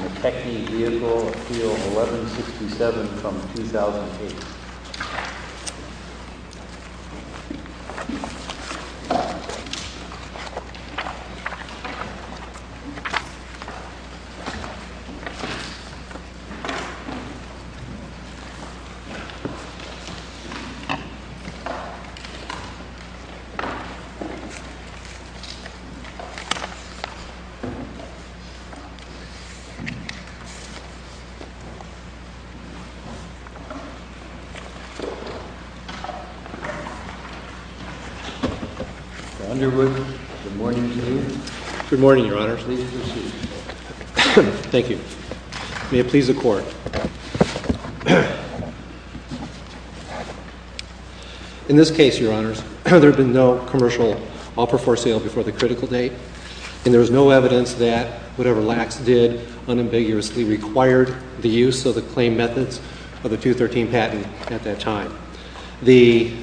McKechnie Vehicle, Appeal 1167 from 2008 Mr. Underwood, good morning to you. Good morning, Your Honors. Please proceed. Thank you. May it please the Court. In this case, Your Honors, there had been no commercial before the critical date, and there was no evidence that whatever Lacks did unambiguously required the use of the claim methods of the 213 patent at that time. The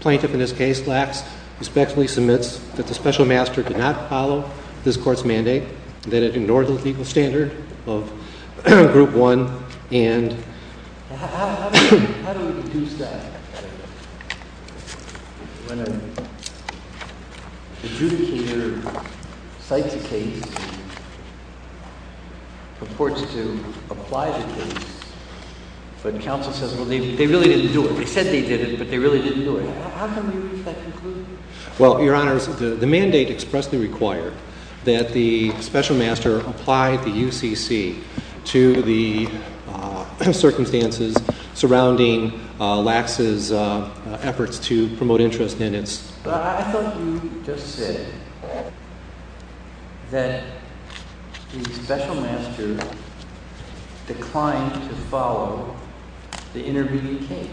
plaintiff in this case, Lacks, respectfully submits that the Special Master did not follow this Court's mandate, that it ignored the legal standard of Group 1, and how do we deduce that? When an adjudicator cites a case and purports to apply the case, but counsel says, well, they really didn't do it. They said they did it, but they really didn't do it. How can we deduce that conclusion? Well, Your Honors, the mandate expressly required that the Special Master apply the UCC to the circumstances surrounding Lacks' efforts to promote interest in its… But I thought you just said that the Special Master declined to follow the intervening case.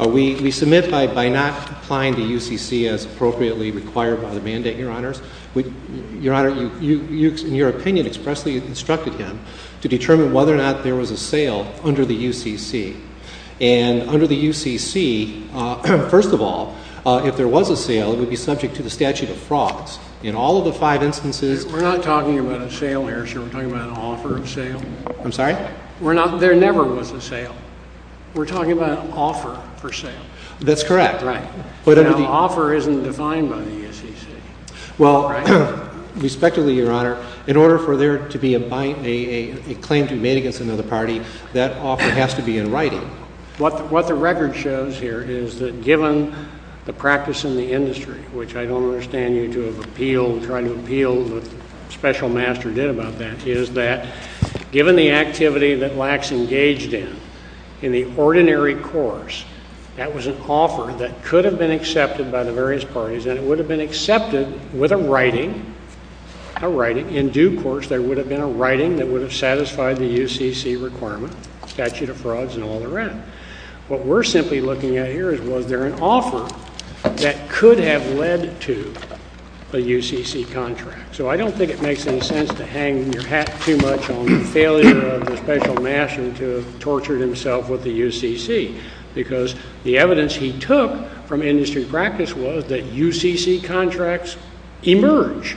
We submit by not applying the UCC as appropriately required by the mandate, Your Honors. Your Honor, you, in your opinion, expressly instructed him to determine whether or not there was a sale under the UCC. And under the UCC, first of all, if there was a sale, it would be subject to the statute of frauds. In all of the five instances… We're not talking about a sale here, sir. We're talking about an offer of sale. I'm sorry? There never was a sale. We're talking about an offer for sale. That's correct. Right. But an offer isn't defined by the UCC. Well, respectfully, Your Honor, in order for there to be a claim to be made against another party, that offer has to be in writing. What the record shows here is that given the practice in the industry, which I don't understand you to have appealed, trying to appeal what the Special Master did about that, is that given the activity that Lacks engaged in, in the ordinary course, that was an offer that could have been accepted by the various parties, and it would have been accepted with a writing, a writing. In due course, there would have been a writing that would have satisfied the UCC requirement, statute of frauds, and all the rest. What we're simply looking at here is was there an offer that could have led to a UCC contract. So I don't think it makes any sense to hang your hat too much on the failure of the Special Master to have tortured himself with the UCC, because the evidence he took from industry practice was that UCC contracts emerge,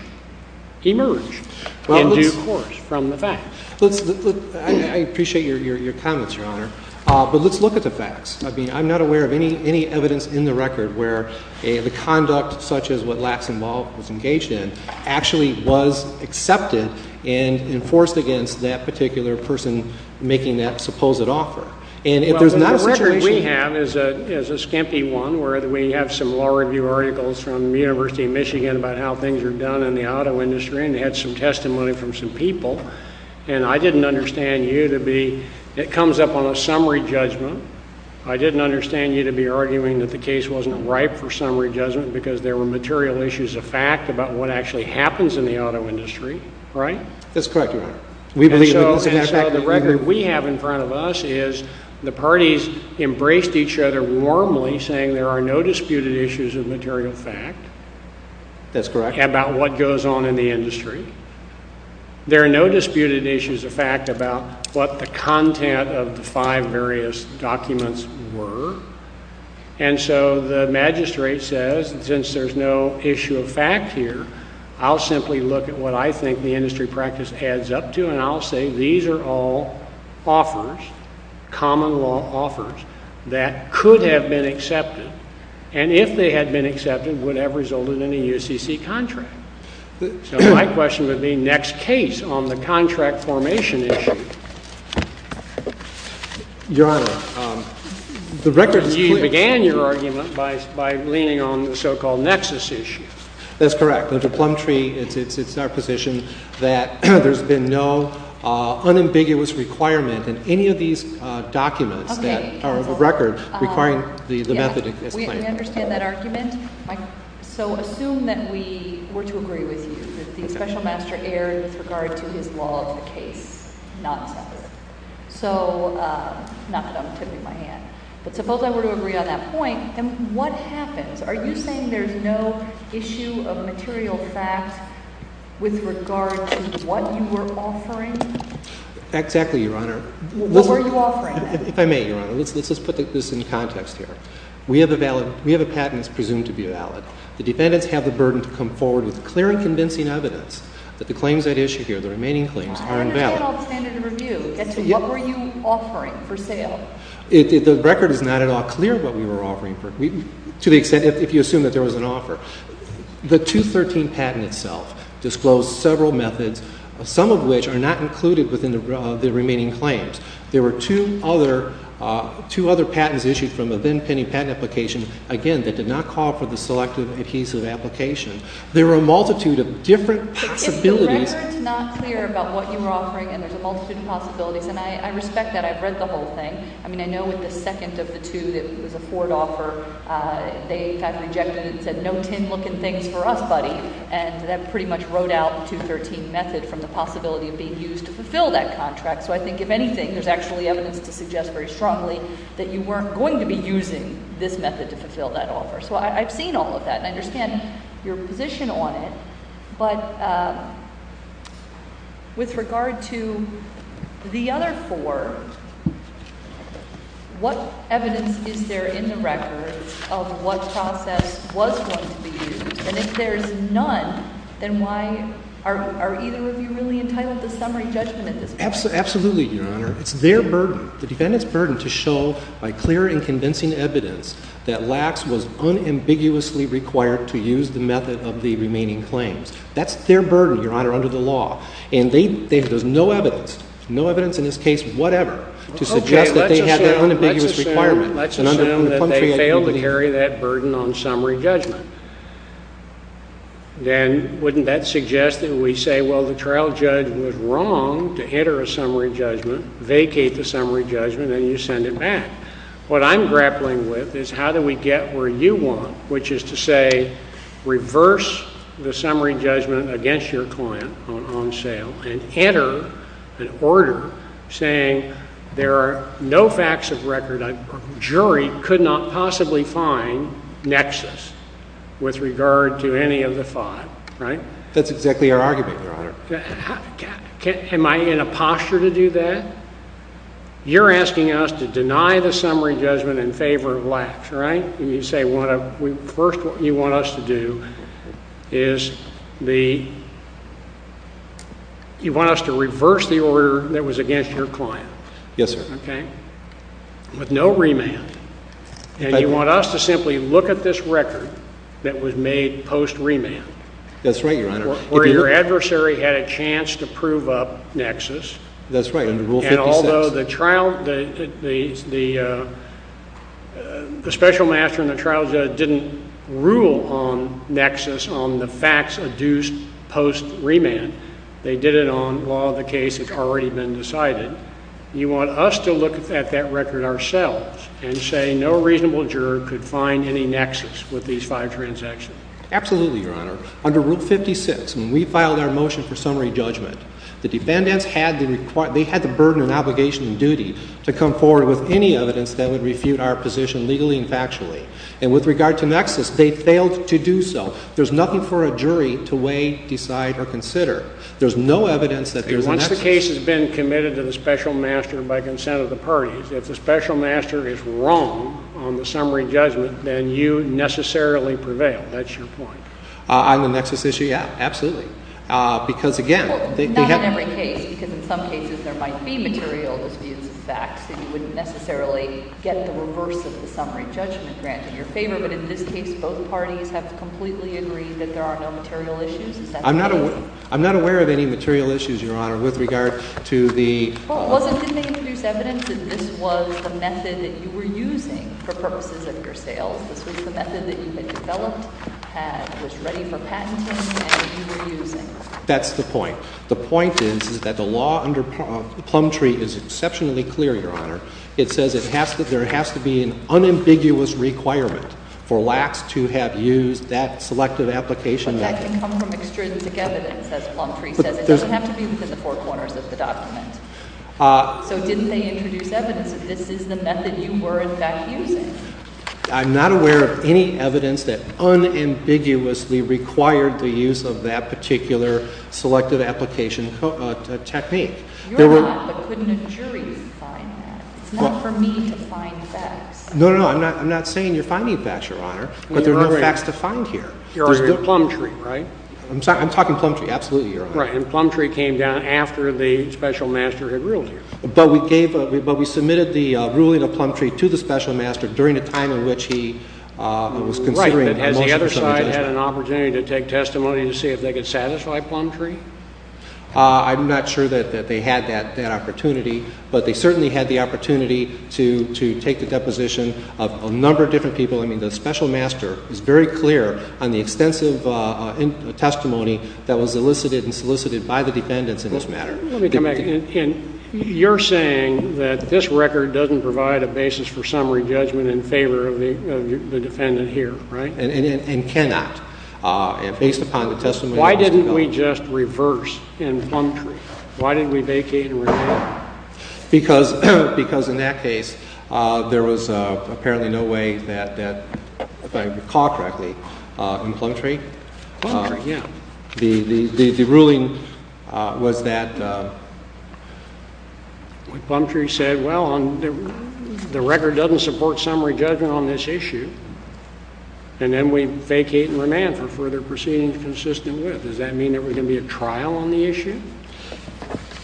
emerge in due course from the facts. I appreciate your comments, Your Honor. But let's look at the facts. I mean, I'm not aware of any evidence in the record where the conduct such as what Lacks involved was engaged in actually was accepted and enforced against that particular person making that supposed offer. And if there's not a situation Well, the record we have is a skimpy one where we have some law review articles from the University of Michigan about how things are done in the auto industry, and they had some testimony from some people. And I didn't understand you to be – it comes up on a summary judgment. I didn't understand you to be arguing that the case wasn't ripe for summary judgment because there were material issues of fact about what actually happens in the auto industry, right? That's correct, Your Honor. And so the record we have in front of us is the parties embraced each other warmly saying there are no disputed issues of material fact. That's correct. About what goes on in the industry. There are no disputed issues of fact about what the content of the five various documents were. And so the magistrate says since there's no issue of fact here, I'll simply look at what I think the industry practice adds up to and I'll say these are all offers, common law offers, that could have been accepted. And if they had been accepted, would have resulted in a UCC contract. So my question would be next case on the contract formation issue. Your Honor, the record is clear. You began your argument by leaning on the so-called nexus issue. That's correct. Under Plum Tree, it's our position that there's been no unambiguous requirement in any of these documents that are of record requiring the method as claimed. We understand that argument. So assume that we were to agree with you that the special master erred with regard to his law of the case, not to us. So not that I'm tipping my hand. But suppose I were to agree on that point, then what happens? Are you saying there's no issue of material fact with regard to what you were offering? Exactly, Your Honor. What were you offering then? If I may, Your Honor, let's put this in context here. We have a patent that's presumed to be valid. The defendants have the burden to come forward with clear and convincing evidence that the claims at issue here, the remaining claims, are invalid. I understand alternative review. What were you offering for sale? The record is not at all clear what we were offering to the extent if you assume that there was an offer. The 213 patent itself disclosed several methods, some of which are not included within the remaining claims. There were two other patents issued from a then-penny patent application, again, that did not call for the selective adhesive application. There were a multitude of different possibilities. If the record's not clear about what you were offering and there's a multitude of possibilities, and I respect that. I've read the whole thing. I mean, I know with the second of the two that was a Ford offer, they kind of rejected it and said, no tin-looking things for us, buddy. And that pretty much rode out the 213 method from the possibility of being used to fulfill that contract. So I think, if anything, there's actually evidence to suggest very strongly that you weren't going to be using this method to fulfill that offer. So I've seen all of that, and I understand your position on it. But with regard to the other four, what evidence is there in the record of what process was going to be used? And if there's none, then why are either of you really entitled to summary judgment at this point? Absolutely, Your Honor. It's their burden. The defendant's burden to show by clear and convincing evidence that Lacks was unambiguously required to use the method of the remaining claims. That's their burden, Your Honor, under the law. And there's no evidence, no evidence in this case whatever, to suggest that they had that unambiguous requirement. Let's assume that they failed to carry that burden on summary judgment. Then wouldn't that suggest that we say, well, the trial judge was wrong to enter a summary judgment, vacate the summary judgment, and you send it back? What I'm grappling with is how do we get where you want, which is to say reverse the summary judgment against your client on sale and enter an order saying there are no facts of record, a jury could not possibly find nexus with regard to any of the five, right? That's exactly our argument, Your Honor. Am I in a posture to do that? You're asking us to deny the summary judgment in favor of Lacks, right? First, what you want us to do is you want us to reverse the order that was against your client. Yes, sir. Okay? With no remand. And you want us to simply look at this record that was made post remand. That's right, Your Honor. Where your adversary had a chance to prove up nexus. That's right, under Rule 56. And although the trial, the special master and the trial judge didn't rule on nexus on the facts adduced post remand. They did it on law of the case that's already been decided. You want us to look at that record ourselves and say no reasonable juror could find any nexus with these five transactions. Absolutely, Your Honor. Under Rule 56, when we filed our motion for summary judgment, the defendants had the burden and obligation and duty to come forward with any evidence that would refute our position legally and factually. And with regard to nexus, they failed to do so. There's nothing for a jury to weigh, decide, or consider. There's no evidence that there's a nexus. Once the case has been committed to the special master by consent of the parties, if the special master is wrong on the summary judgment, then you necessarily prevail. That's your point. On the nexus issue, yeah. Absolutely. Because, again, they have Well, not in every case, because in some cases there might be material disputes of facts that you wouldn't necessarily get the reverse of the summary judgment granted your favor. But in this case, both parties have completely agreed that there are no material issues. Is that correct? I'm not aware of any material issues, Your Honor, with regard to the Well, wasn't, didn't they introduce evidence that this was the method that you were using for purposes of your sales? This was the method that you had developed, had, was ready for patenting, and you were using? That's the point. The point is, is that the law under Plumtree is exceptionally clear, Your Honor. It says it has to, there has to be an unambiguous requirement for lax to have used that selective application But that can come from extrinsic evidence, as Plumtree says. It doesn't have to be within the four corners of the document. So didn't they introduce evidence that this is the method you were, in fact, using? I'm not aware of any evidence that unambiguously required the use of that particular selective application technique. You're not, but couldn't a jury find that? It's not for me to find facts. No, no, no, I'm not saying you're finding facts, Your Honor, but there are no facts to find here. You're arguing Plumtree, right? I'm talking Plumtree, absolutely, Your Honor. Right, and Plumtree came down after the Special Master had ruled here. But we gave, but we submitted the ruling of Plumtree to the Special Master during a time in which he was considering a motion for some adjustment. Right, but has the other side had an opportunity to take testimony to see if they could satisfy Plumtree? I'm not sure that they had that opportunity, but they certainly had the opportunity to take the deposition of a number of different people. I mean, the Special Master is very clear on the extensive testimony that was elicited and solicited by the defendants in this matter. Let me come back. You're saying that this record doesn't provide a basis for summary judgment in favor of the defendant here, right? And cannot. Based upon the testimony that was developed. Why didn't we just reverse in Plumtree? Why didn't we vacate and revamp? Because in that case, there was apparently no way that, if I recall correctly, in Plumtree. Plumtree, yeah. The ruling was that. Plumtree said, well, the record doesn't support summary judgment on this issue. And then we vacate and revamp for further proceedings consistent with. Does that mean that we're going to be a trial on the issue?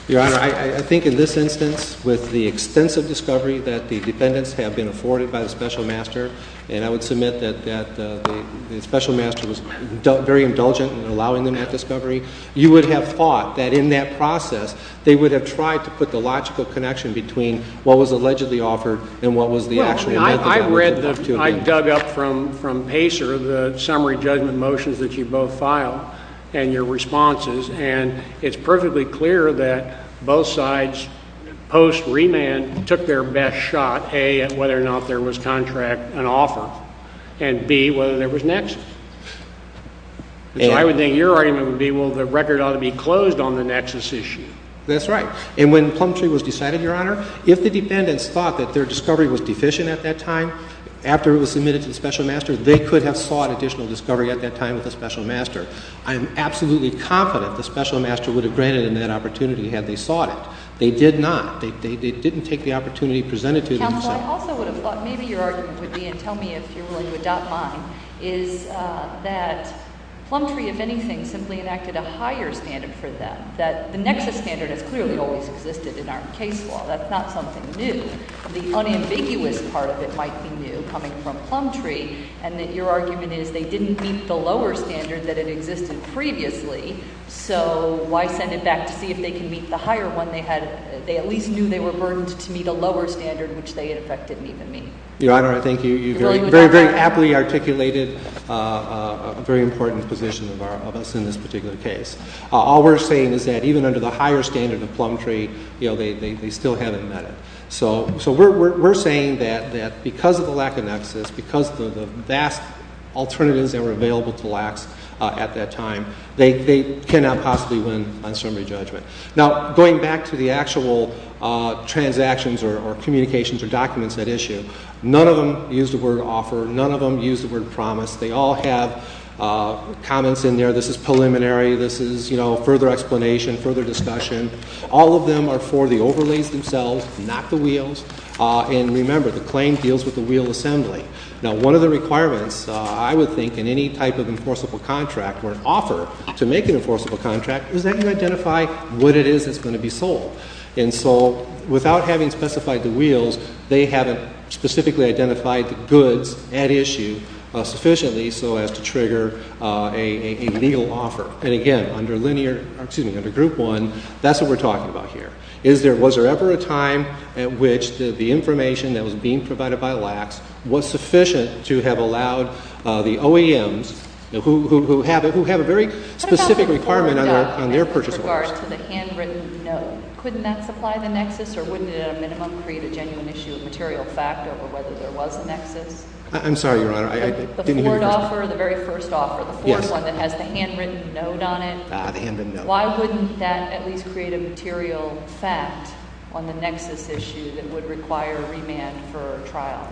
Your Honor, I think in this instance, with the extensive discovery that the defendants have been afforded by the Special Master, and I would submit that the Special Master was very indulgent in allowing them that discovery, you would have thought that in that process, they would have tried to put the logical connection between what was allegedly offered and what was the actual. I dug up from Pacer the summary judgment motions that you both filed and your responses, and it's perfectly clear that both sides post-remand took their best shot, A, at whether or not there was contract and offer, and B, whether there was nexus. So I would think your argument would be, well, the record ought to be closed on the nexus issue. That's right. And when Plumtree was decided, Your Honor, if the defendants thought that their discovery was deficient at that time, after it was submitted to the Special Master, they could have sought additional discovery at that time with the Special Master. I am absolutely confident the Special Master would have granted them that opportunity had they sought it. They did not. They didn't take the opportunity presented to them. Counsel, I also would have thought maybe your argument would be, and tell me if you're willing to adopt mine, is that Plumtree, if anything, simply enacted a higher standard for them, that the nexus standard has clearly always existed in our case law. That's not something new. The unambiguous part of it might be new, coming from Plumtree, and that your argument is they didn't meet the lower standard that had existed previously, so why send it back to see if they can meet the higher one they had? They at least knew they were burdened to meet a lower standard, which they, in effect, didn't even meet. Your Honor, I think you very, very aptly articulated a very important position of us in this particular case. All we're saying is that even under the higher standard of Plumtree, they still haven't met it. So we're saying that because of the lack of nexus, because of the vast alternatives that were available to LACs at that time, they cannot possibly win on summary judgment. Now, going back to the actual transactions or communications or documents at issue, none of them use the word offer. None of them use the word promise. They all have comments in there, this is preliminary, this is further explanation, further discussion. All of them are for the overlays themselves, not the wheels. And remember, the claim deals with the wheel assembly. Now, one of the requirements, I would think, in any type of enforceable contract or offer to make an enforceable contract is that you identify what it is that's going to be sold. And so without having specified the wheels, they haven't specifically identified the goods at issue sufficiently so as to trigger a legal offer. And again, under linear, excuse me, under Group 1, that's what we're talking about here. Is there, was there ever a time at which the information that was being provided by LACs was sufficient to have allowed the OEMs, who have a very specific requirement on their purchase orders. What about the forward offer with regard to the handwritten note? Couldn't that supply the nexus or wouldn't it at a minimum create a genuine issue of material fact over whether there was a nexus? I'm sorry, Your Honor, I didn't hear your question. The forward offer, the very first offer, the fourth one that has the handwritten note on it. Ah, the handwritten note. Why wouldn't that at least create a material fact on the nexus issue that would require remand for trial?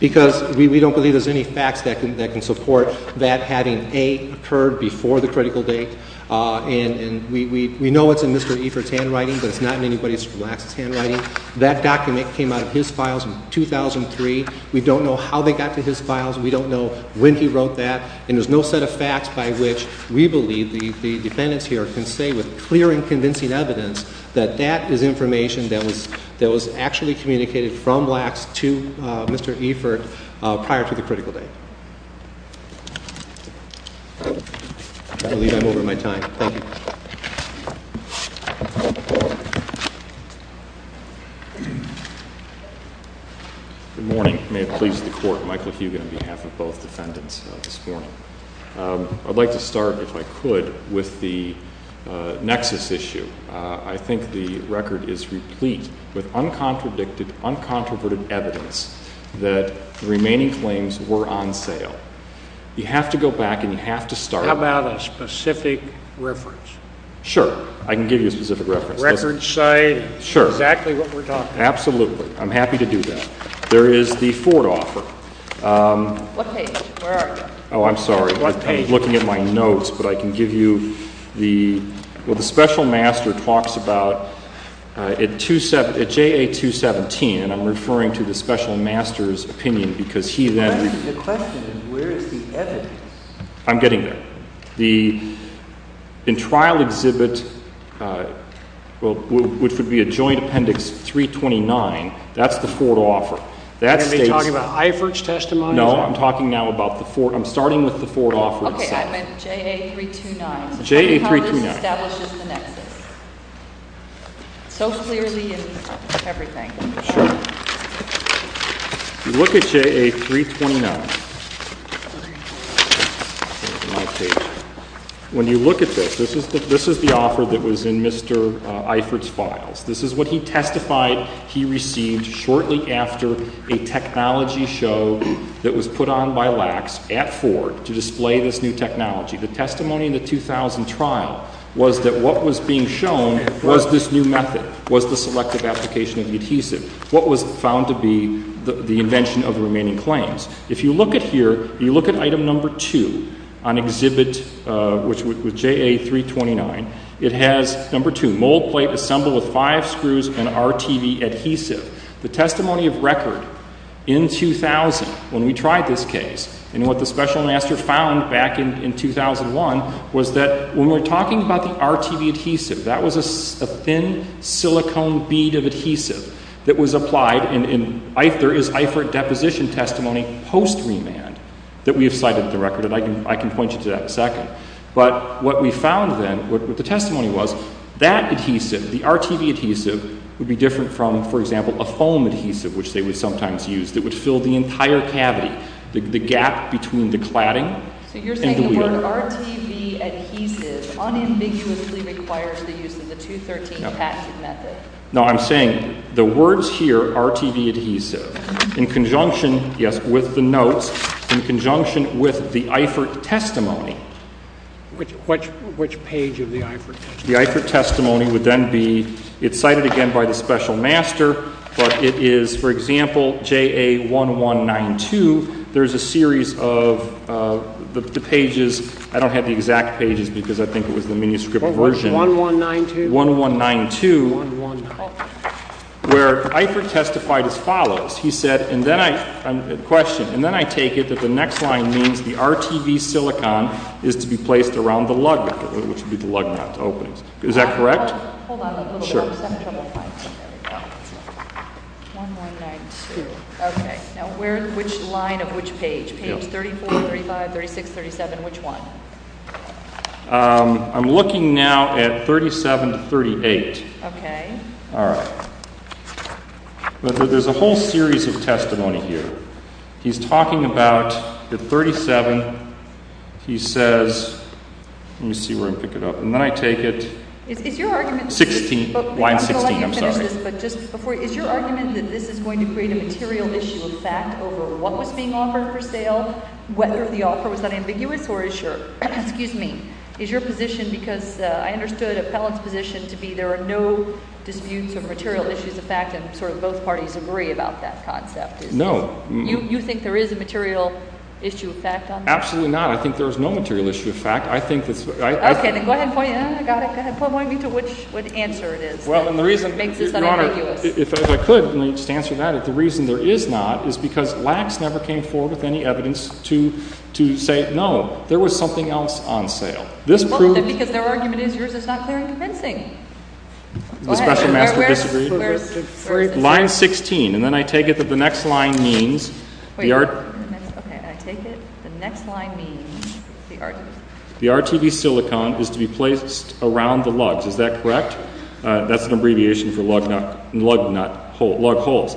Because we don't believe there's any facts that can support that having, A, occurred before the critical date. And we know it's in Mr. Efert's handwriting, but it's not in anybody's LACs' handwriting. That document came out of his files in 2003. We don't know how they got to his files. We don't know when he wrote that. And there's no set of facts by which we believe the defendants here can say with clear and convincing evidence that that is information that was actually communicated from LACs to Mr. Efert prior to the critical date. I believe I'm over my time. Thank you. Good morning. May it please the Court. Michael Hugin on behalf of both defendants this morning. I'd like to start, if I could, with the nexus issue. I think the record is replete with uncontradicted, uncontroverted evidence that the remaining claims were on sale. You have to go back and you have to start. How about a specific reference? Sure. I can give you a specific reference. Records say exactly what we're talking about. Absolutely. I'm happy to do that. There is the Ford offer. What page? Where are you? Oh, I'm sorry. I'm looking at my notes, but I can give you the, well, the special master talks about, at JA217, and I'm referring to the special master's opinion because he then The question is where is the evidence? I'm getting there. In trial exhibit, which would be a joint appendix 329, that's the Ford offer. Are you talking about IVERT's testimony? No. I'm talking now about the Ford. I'm starting with the Ford offer itself. I meant JA329. JA329. How this establishes the nexus. So clearly in everything. Sure. Look at JA329. When you look at this, this is the offer that was in Mr. IVERT's files. This is what he testified he received shortly after a technology show that was put on by LAX at Ford to display this new technology. The testimony in the 2000 trial was that what was being shown was this new method, was the selective application of adhesive. What was found to be the invention of the remaining claims. If you look at here, if you look at item number two on exhibit with JA329, it has number two, mold plate assembled with five screws and RTV adhesive. The testimony of record in 2000 when we tried this case, and what the special master found back in 2001 was that when we're talking about the RTV adhesive, that was a thin silicone bead of adhesive that was applied, and there is IVERT deposition testimony post remand that we have cited at the record, and I can point you to that in a second. But what we found then, what the testimony was, that adhesive, the RTV adhesive, would be different from, for example, a foam adhesive, which they would sometimes use, that would fill the entire cavity, the gap between the cladding and the wheel. The word RTV adhesive unambiguously requires the use of the 213 tactic method. No, I'm saying the words here, RTV adhesive, in conjunction, yes, with the notes, in conjunction with the IVERT testimony. Which page of the IVERT testimony? The IVERT testimony would then be, it's cited again by the special master, but it is, for example, JA 1192, there's a series of the pages, I don't have the exact pages because I think it was the manuscript version. 1192? 1192. 1192. Where IVERT testified as follows. He said, and then I, question, and then I take it that the next line means the RTV silicone is to be placed around the lug nut, which would be the lug nut openings. Is that correct? Hold on a little bit. I'm having trouble finding it. 1192. Okay. Now, which line of which page? Pages 34, 35, 36, 37, which one? I'm looking now at 37 to 38. Okay. All right. There's a whole series of testimony here. He's talking about the 37. He says, let me see where I can pick it up, and then I take it. 16. Line 16, I'm sorry. I'm going to let you finish this, but just before, is your argument that this is going to create a material issue of fact over what was being offered for sale, whether the offer was that ambiguous, or is your, excuse me, is your position, because I understood Appellant's position to be there are no disputes or material issues of fact, and sort of both parties agree about that concept. No. You think there is a material issue of fact on that? Absolutely not. I think there is no material issue of fact. Okay. Then go ahead and point it out. I got it. Go ahead. Point me to which answer it is that makes this unambiguous. Well, and the reason, Your Honor, if I could, let me just answer that. If the reason there is not is because Lacks never came forward with any evidence to say, no, there was something else on sale. This proves Well, then because their argument is yours, it's not clear and convincing. The special master disagreed. Go ahead. Where is it? Line 16, and then I take it that the next line means the argument Wait a minute. Okay. The next line means the argument. The RTV silicone is to be placed around the lugs. Is that correct? That's an abbreviation for lug nut, lug nut hole, lug holes.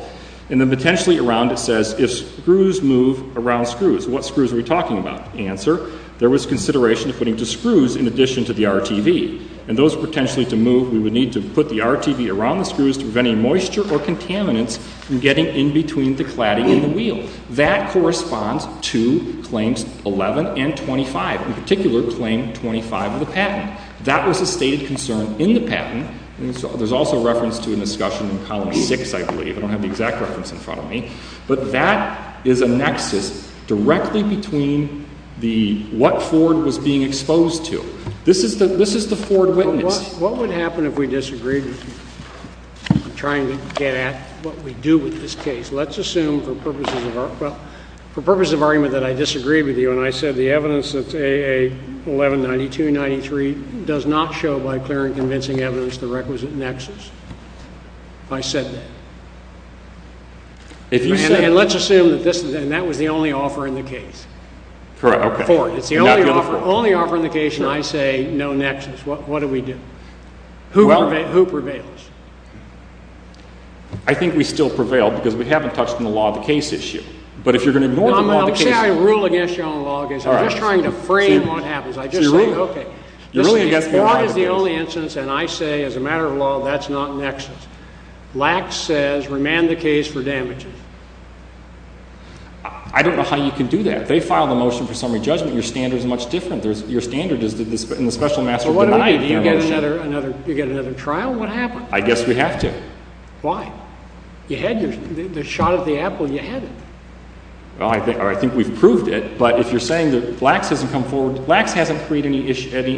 And then potentially around it says if screws move around screws, what screws are we talking about? Answer. There was consideration of putting two screws in addition to the RTV and those potentially to move. We would need to put the RTV around the screws to prevent any moisture or contaminants from getting in between the cladding and the wheel. That corresponds to claims 11 and 25, in particular claim 25 of the patent. That was a stated concern in the patent. There's also reference to a discussion in column 6, I believe. I don't have the exact reference in front of me. But that is a nexus directly between what Ford was being exposed to. This is the Ford witness. What would happen if we disagreed? I'm trying to get at what we do with this case. Let's assume for purposes of argument that I disagreed with you and I said the evidence that's AA 1192-93 does not show by clear and convincing evidence the requisite nexus. I said that. And let's assume that was the only offer in the case. Ford, it's the only offer in the case and I say no nexus. What do we do? Who prevails? I think we still prevail because we haven't touched on the law of the case issue. But if you're going to ignore the law of the case issue. I'm not saying I rule against you on the law of the case issue. I'm just trying to frame what happens. You're ruling against me on the law of the case issue. Ford is the only instance and I say as a matter of law that's not nexus. Lacks says remand the case for damages. I don't know how you can do that. They filed a motion for summary judgment. Your standard is much different. Your standard is in the special master of the night. Why do you get another trial? What happened? I guess we have to. Why? You had the shot at the apple and you had it. I think we've proved it. But if you're saying that Lacks hasn't come forward. Lacks hasn't created any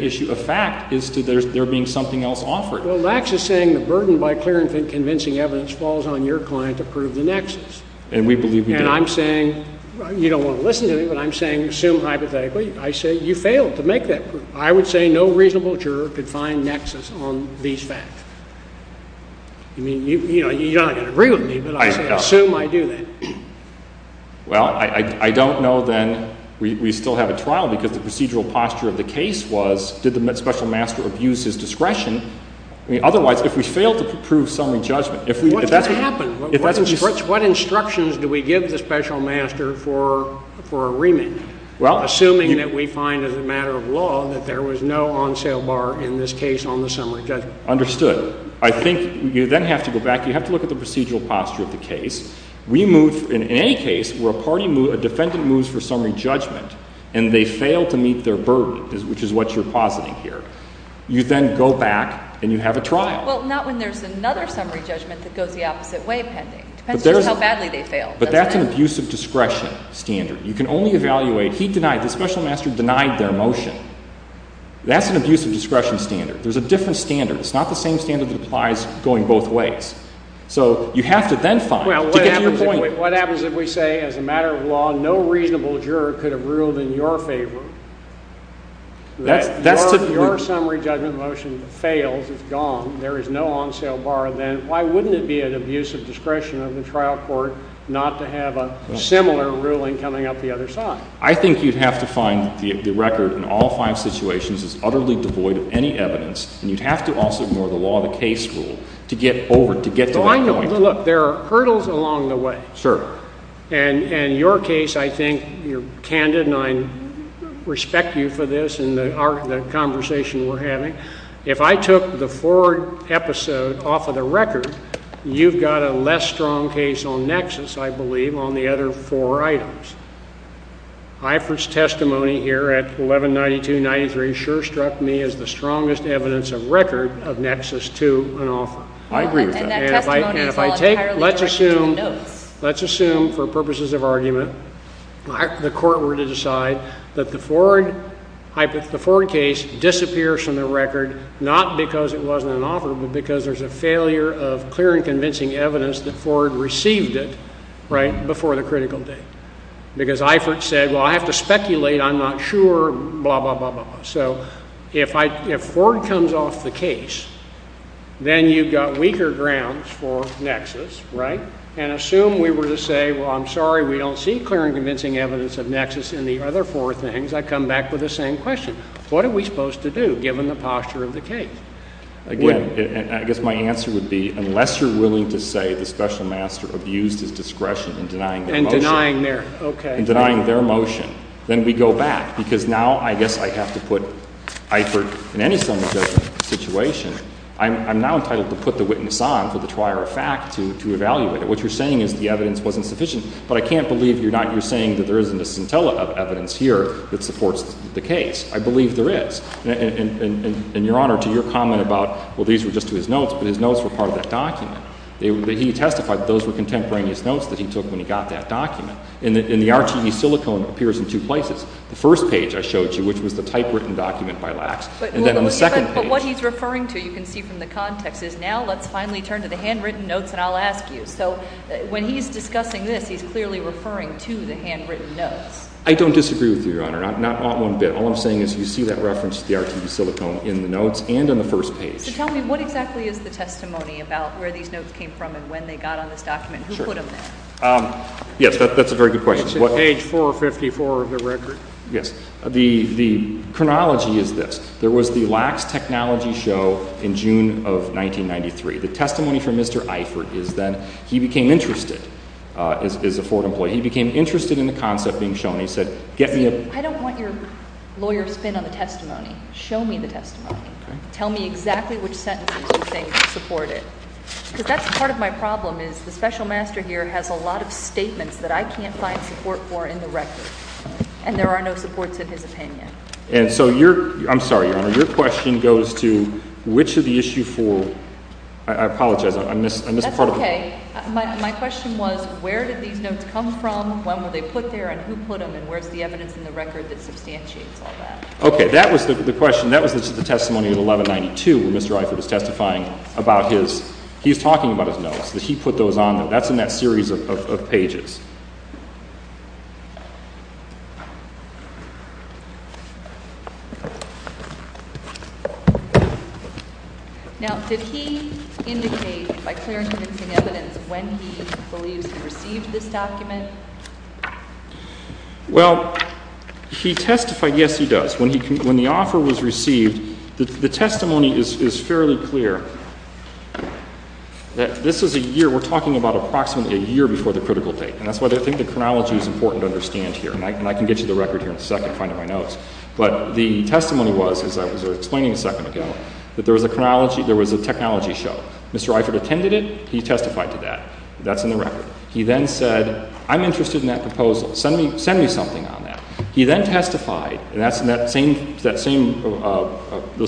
issue of fact as to there being something else offered. Lacks is saying the burden by clear and convincing evidence falls on your client to prove the nexus. And we believe we do. And I'm saying, you don't want to listen to me, but I'm saying assume hypothetically. I say you failed to make that proof. I would say no reasonable juror could find nexus on these facts. I mean, you're not going to agree with me, but I say assume I do that. Well, I don't know then we still have a trial because the procedural posture of the case was did the special master abuse his discretion? I mean, otherwise, if we fail to prove summary judgment, if that's what happens. What instructions do we give the special master for a remand? Assuming that we find as a matter of law that there was no on sale bar in this case on the summary judgment. Understood. I think you then have to go back. You have to look at the procedural posture of the case. In any case where a defendant moves for summary judgment and they fail to meet their burden, which is what you're positing here, you then go back and you have a trial. Well, not when there's another summary judgment that goes the opposite way pending. It depends just how badly they fail. But that's an abuse of discretion standard. You can only evaluate, he denied, the special master denied their motion. That's an abuse of discretion standard. There's a different standard. It's not the same standard that applies going both ways. So you have to then find to get to your point. What happens if we say as a matter of law, no reasonable juror could have ruled in your favor? Your summary judgment motion fails. It's gone. There is no on sale bar. Then why wouldn't it be an abuse of discretion of the trial court not to have a similar ruling coming up the other side? I think you'd have to find the record in all five situations is utterly devoid of any evidence. And you'd have to also ignore the law of the case rule to get over, to get to that point. Look, there are hurdles along the way. Sure. And in your case, I think your candidate and I respect you for this and the conversation we're having. If I took the Ford episode off of the record, you've got a less strong case on nexus, I believe, on the other four items. Ifrit's testimony here at 1192-93 sure struck me as the strongest evidence of record of nexus to an author. I agree with that. And if I take, let's assume, let's assume for purposes of argument, the court were to decide that the Ford case disappears from the record, not because it wasn't an offer, but because there's a failure of clear and convincing evidence that Ford received it, right, before the critical date. Because Ifrit said, well, I have to speculate. I'm not sure, blah, blah, blah, blah. So if Ford comes off the case, then you've got weaker grounds for nexus, right? And assume we were to say, well, I'm sorry, we don't see clear and convincing evidence of nexus in the other four things. I come back with the same question. What are we supposed to do, given the posture of the case? Again, I guess my answer would be unless you're willing to say the special master abused his discretion in denying the motion. And denying their, okay. Then we go back. Because now I guess I have to put Ifrit in any sum of judgment situation. I'm now entitled to put the witness on for the trier of fact to evaluate it. What you're saying is the evidence wasn't sufficient. But I can't believe you're not, you're saying that there isn't a scintilla of evidence here that supports the case. I believe there is. And, Your Honor, to your comment about, well, these were just to his notes, but his notes were part of that document. He testified that those were contemporaneous notes that he took when he got that document. And the RTE silicone appears in two places. The first page I showed you, which was the typewritten document by Lacks. And then on the second page. But what he's referring to, you can see from the context, is now let's finally turn to the handwritten notes and I'll ask you. So when he's discussing this, he's clearly referring to the handwritten notes. I don't disagree with you, Your Honor. Not one bit. All I'm saying is you see that reference to the RTE silicone in the notes and on the first page. So tell me, what exactly is the testimony about where these notes came from and when they got on this document? Sure. Who put them there? Yes. That's a very good question. It's in page 454 of the record. Yes. The chronology is this. There was the Lacks Technology Show in June of 1993. The testimony from Mr. Eifert is that he became interested as a Ford employee. He became interested in the concept being shown. He said, get me a — I don't want your lawyer to spin on the testimony. Show me the testimony. Okay. Tell me exactly which sentences you think support it. Because that's part of my problem is the special master here has a lot of statements that I can't find support for in the record. And there are no supports in his opinion. And so your — I'm sorry, Your Honor. Your question goes to which of the issue for — I apologize. I missed part of the question. That's okay. My question was where did these notes come from, when were they put there, and who put them, and where's the evidence in the record that substantiates all that? Okay. Okay. That was the question. That was the testimony of 1192 when Mr. Eifert was testifying about his — he's talking about his notes, that he put those on them. That's in that series of pages. Now, did he indicate by clear and convincing evidence when he believes he received this document? Well, he testified, yes, he does. When the offer was received, the testimony is fairly clear. This is a year — we're talking about approximately a year before the critical date. And that's why I think the chronology is important to understand here. And I can get you the record here in a second, finding my notes. But the testimony was, as I was explaining a second ago, that there was a chronology — there was a technology show. Mr. Eifert attended it. He testified to that. That's in the record. He then said, I'm interested in that proposal. Send me something on that. He then testified, and that's in that same — those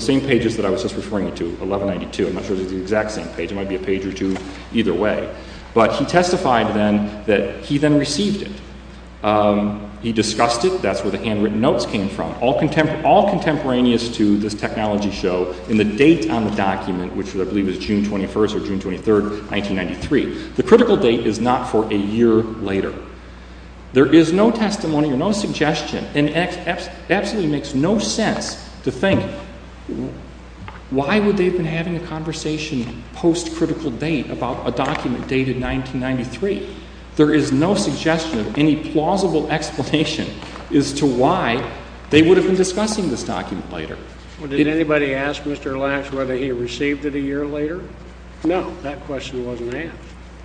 same pages that I was just referring to, 1192. I'm not sure if it's the exact same page. It might be a page or two either way. But he testified then that he then received it. He discussed it. That's where the handwritten notes came from. All contemporaneous to this technology show in the date on the document, which I believe is June 21st or June 23rd, 1993. The critical date is not for a year later. There is no testimony or no suggestion. It absolutely makes no sense to think, why would they have been having a conversation post-critical date about a document dated 1993? There is no suggestion of any plausible explanation as to why they would have been discussing this document later. Well, did anybody ask Mr. Lacks whether he received it a year later? No. That question wasn't asked.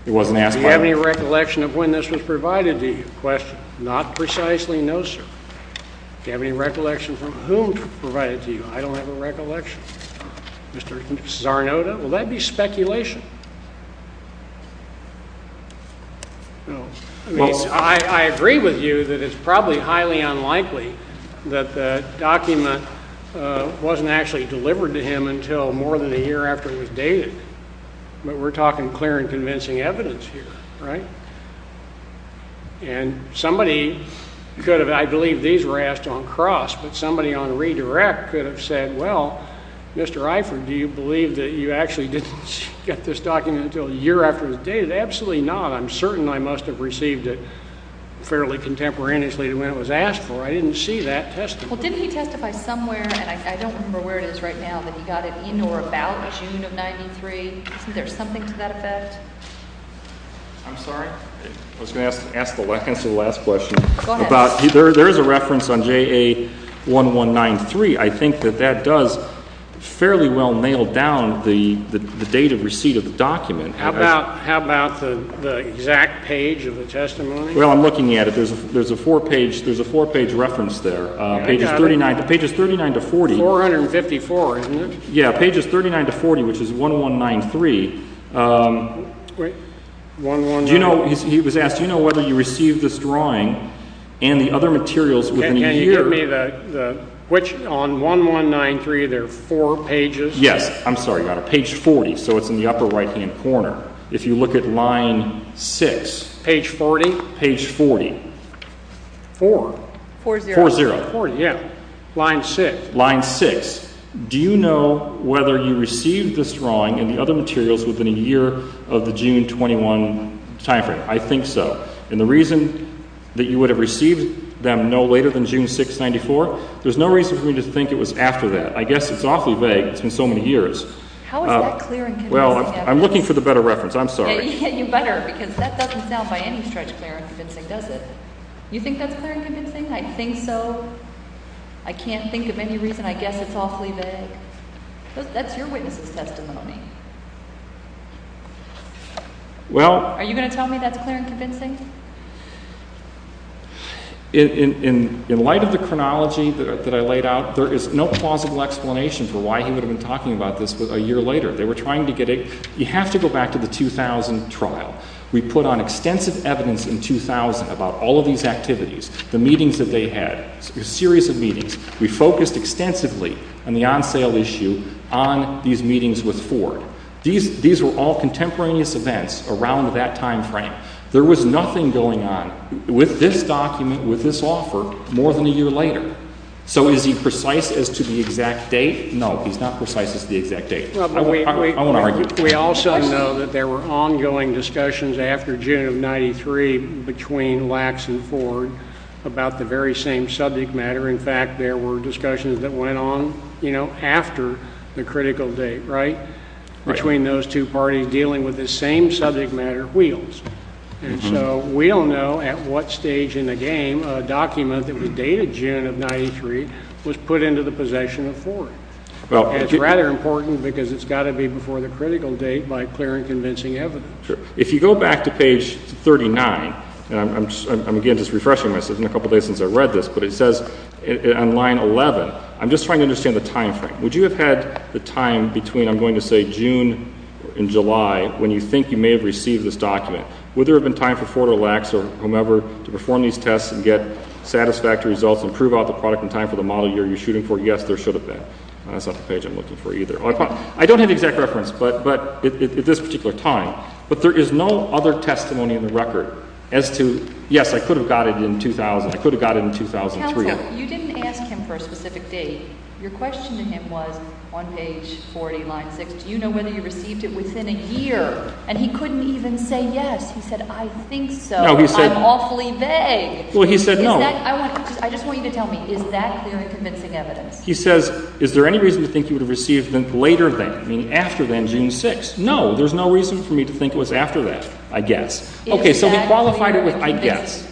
It wasn't asked by him? Do you have any recollection of when this was provided to you? Question. Not precisely, no, sir. Do you have any recollection from whom it was provided to you? I don't have a recollection. Mr. Czarnota, will that be speculation? I agree with you that it's probably highly unlikely that the document wasn't actually delivered to him until more than a year after it was dated. But we're talking clear and convincing evidence here, right? And somebody could have, I believe these were asked on cross, but somebody on redirect could have said, well, Mr. Iford, do you believe that you actually didn't get this document until a year after it was dated? Absolutely not. I'm certain I must have received it fairly contemporaneously to when it was asked for. I didn't see that testimony. Well, didn't he testify somewhere, and I don't remember where it is right now, that he got it in or about June of 93? Is there something to that effect? I'm sorry. I was going to ask the last question. Go ahead. There is a reference on JA 1193. I think that that does fairly well nail down the date of receipt of the document. How about the exact page of the testimony? Well, I'm looking at it. There's a four-page reference there, pages 39 to 40. 454, isn't it? Yeah, pages 39 to 40, which is 1193. 1193. He was asked, do you know whether you received this drawing and the other materials within a year? Can you give me the, which, on 1193, there are four pages? Yes. I'm sorry about it. Page 40, so it's in the upper right-hand corner. If you look at line 6. Page 40? Page 40. Four. Four zero. Four zero. Yeah. Line 6. Line 6. Do you know whether you received this drawing and the other materials within a year of the June 21 timeframe? I think so. And the reason that you would have received them no later than June 6, 1994, there's no reason for me to think it was after that. I guess it's awfully vague. It's been so many years. How is that clear and convincing? Well, I'm looking for the better reference. I'm sorry. Yeah, you better because that doesn't sound by any stretch clear and convincing, does it? You think that's clear and convincing? I think so. I can't think of any reason. I guess it's awfully vague. That's your witness' testimony. Well. Are you going to tell me that's clear and convincing? In light of the chronology that I laid out, there is no plausible explanation for why he would have been talking about this a year later. They were trying to get a you have to go back to the 2000 trial. We put on extensive evidence in 2000 about all of these activities, the meetings that they had, a series of meetings. We focused extensively on the on-sale issue on these meetings with Ford. These were all contemporaneous events around that time frame. There was nothing going on with this document, with this offer, more than a year later. So is he precise as to the exact date? No, he's not precise as to the exact date. I want to argue. We also know that there were ongoing discussions after June of 93 between Lacks and Ford about the very same subject matter. In fact, there were discussions that went on, you know, after the critical date, right, between those two parties dealing with the same subject matter, wheels. And so we don't know at what stage in the game a document that was dated June of 93 was put into the possession of Ford. It's rather important because it's got to be before the critical date by clear and convincing evidence. Sure. If you go back to page 39, and I'm, again, just refreshing myself. It's been a couple days since I read this, but it says on line 11, I'm just trying to understand the time frame. Would you have had the time between, I'm going to say, June and July when you think you may have received this document? Would there have been time for Ford or Lacks or whomever to perform these tests and get satisfactory results and prove out the product in time for the model year you're shooting for? Yes, there should have been. That's not the page I'm looking for either. I don't have the exact reference, but at this particular time. But there is no other testimony in the record as to, yes, I could have got it in 2000, I could have got it in 2003. Counsel, you didn't ask him for a specific date. Your question to him was on page 40, line 6, do you know whether you received it within a year? And he couldn't even say yes. He said, I think so. I'm awfully vague. Well, he said no. I just want you to tell me, is that clear and convincing evidence? He says, is there any reason to think you would have received it later than, I mean, after then, June 6th? No, there's no reason for me to think it was after that, I guess. Okay, so he qualified it with I guess.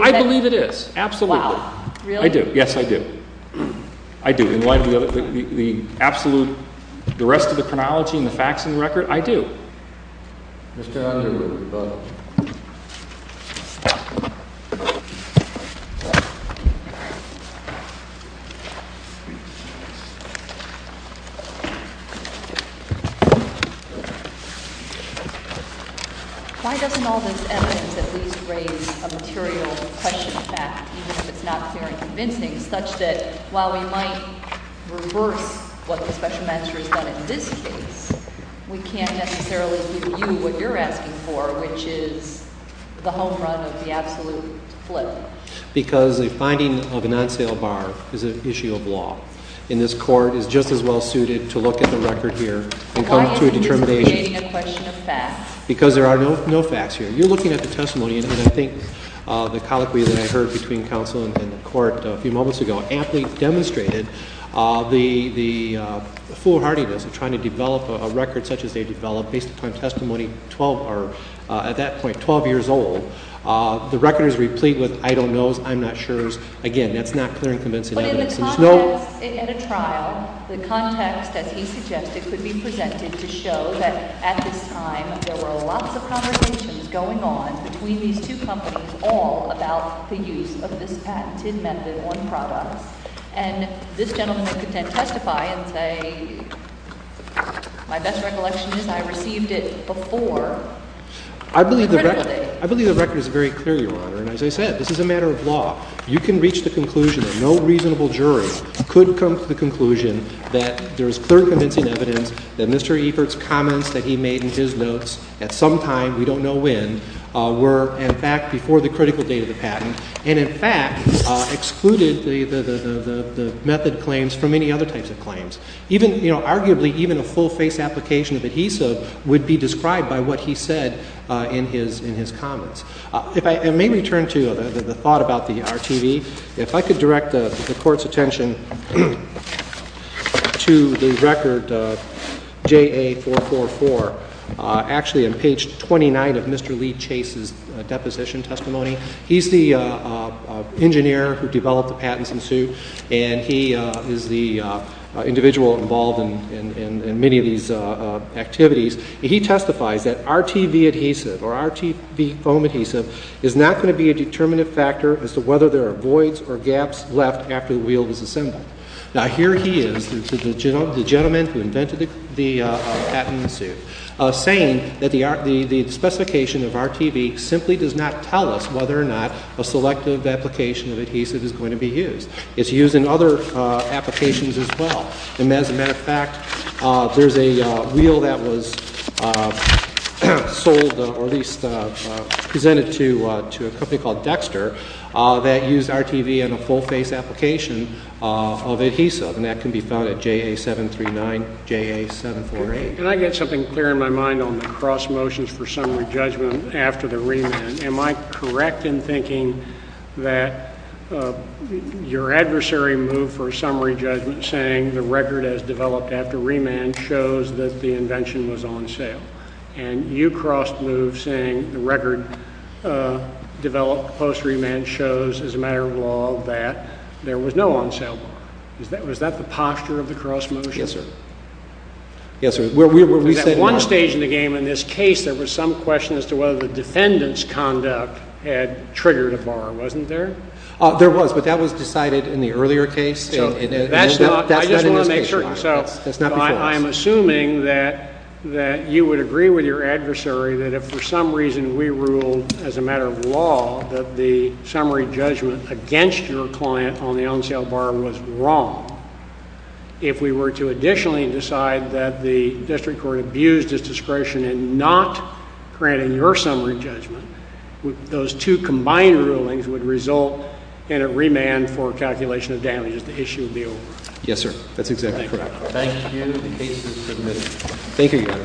I believe it is, absolutely. Wow. Really? I do. Yes, I do. I do. In light of the absolute, the rest of the chronology and the facts in the record, I do. Mr. Underwood. Why doesn't all this evidence at least raise a material question of fact, even if it's not clear and convincing, such that while we might reverse what the special magistrate has done in this case, we can't necessarily give you what you're asking for, which is the home run of the absolute flip? Because the finding of an on sale bar is an issue of law. And this court is just as well suited to look at the record here and come to a determination. Why isn't this creating a question of fact? Because there are no facts here. You're looking at the testimony, and I think the colloquy that I heard between counsel and the court a few moments ago amply demonstrated the foolhardiness of trying to develop a record such as they developed based upon testimony at that point 12 years old. The record is replete with I don't know's, I'm not sure's. Again, that's not clear and convincing evidence. In a trial, the context, as he suggested, could be presented to show that at this time there were lots of conversations going on between these two companies all about the use of this patented method on products. And this gentleman could then testify and say my best recollection is I received it before. I believe the record is very clear, Your Honor. You can reach the conclusion that no reasonable jury could come to the conclusion that there is clear and convincing evidence that Mr. Evert's comments that he made in his notes at some time, we don't know when, were in fact before the critical date of the patent and in fact excluded the method claims from any other types of claims. Arguably, even a full-face application of adhesive would be described by what he said in his comments. I may return to the thought about the RTV. If I could direct the Court's attention to the record JA444, actually on page 29 of Mr. Lee Chase's deposition testimony. He's the engineer who developed the patents in Sioux and he is the individual involved in many of these activities. He testifies that RTV adhesive or RTV foam adhesive is not going to be a determinative factor as to whether there are voids or gaps left after the wheel was assembled. Now here he is, the gentleman who invented the patent in Sioux, saying that the specification of RTV simply does not tell us whether or not a selective application of adhesive is going to be used. It's used in other applications as well. And as a matter of fact, there's a wheel that was sold or at least presented to a company called Dexter that used RTV in a full-face application of adhesive and that can be found at JA739, JA748. Can I get something clear in my mind on the cross motions for summary judgment after the remand? Am I correct in thinking that your adversary moved for a summary judgment saying the record as developed after remand shows that the invention was on sale? And you crossed moves saying the record developed post remand shows, as a matter of law, that there was no on-sale bar. Was that the posture of the cross motion? Yes, sir. Yes, sir. At one stage in the game in this case, there was some question as to whether the defendant's conduct had triggered a bar. Wasn't there? There was, but that was decided in the earlier case. I just want to make certain. I'm assuming that you would agree with your adversary that if for some reason we ruled as a matter of law that the summary judgment against your client on the on-sale bar was wrong, if we were to additionally decide that the district court abused its discretion in not granting your summary judgment, those two combined rulings would result in a remand for calculation of damages. The issue would be over. Yes, sir. That's exactly correct. Thank you. Thank you, Your Honor. Thank you.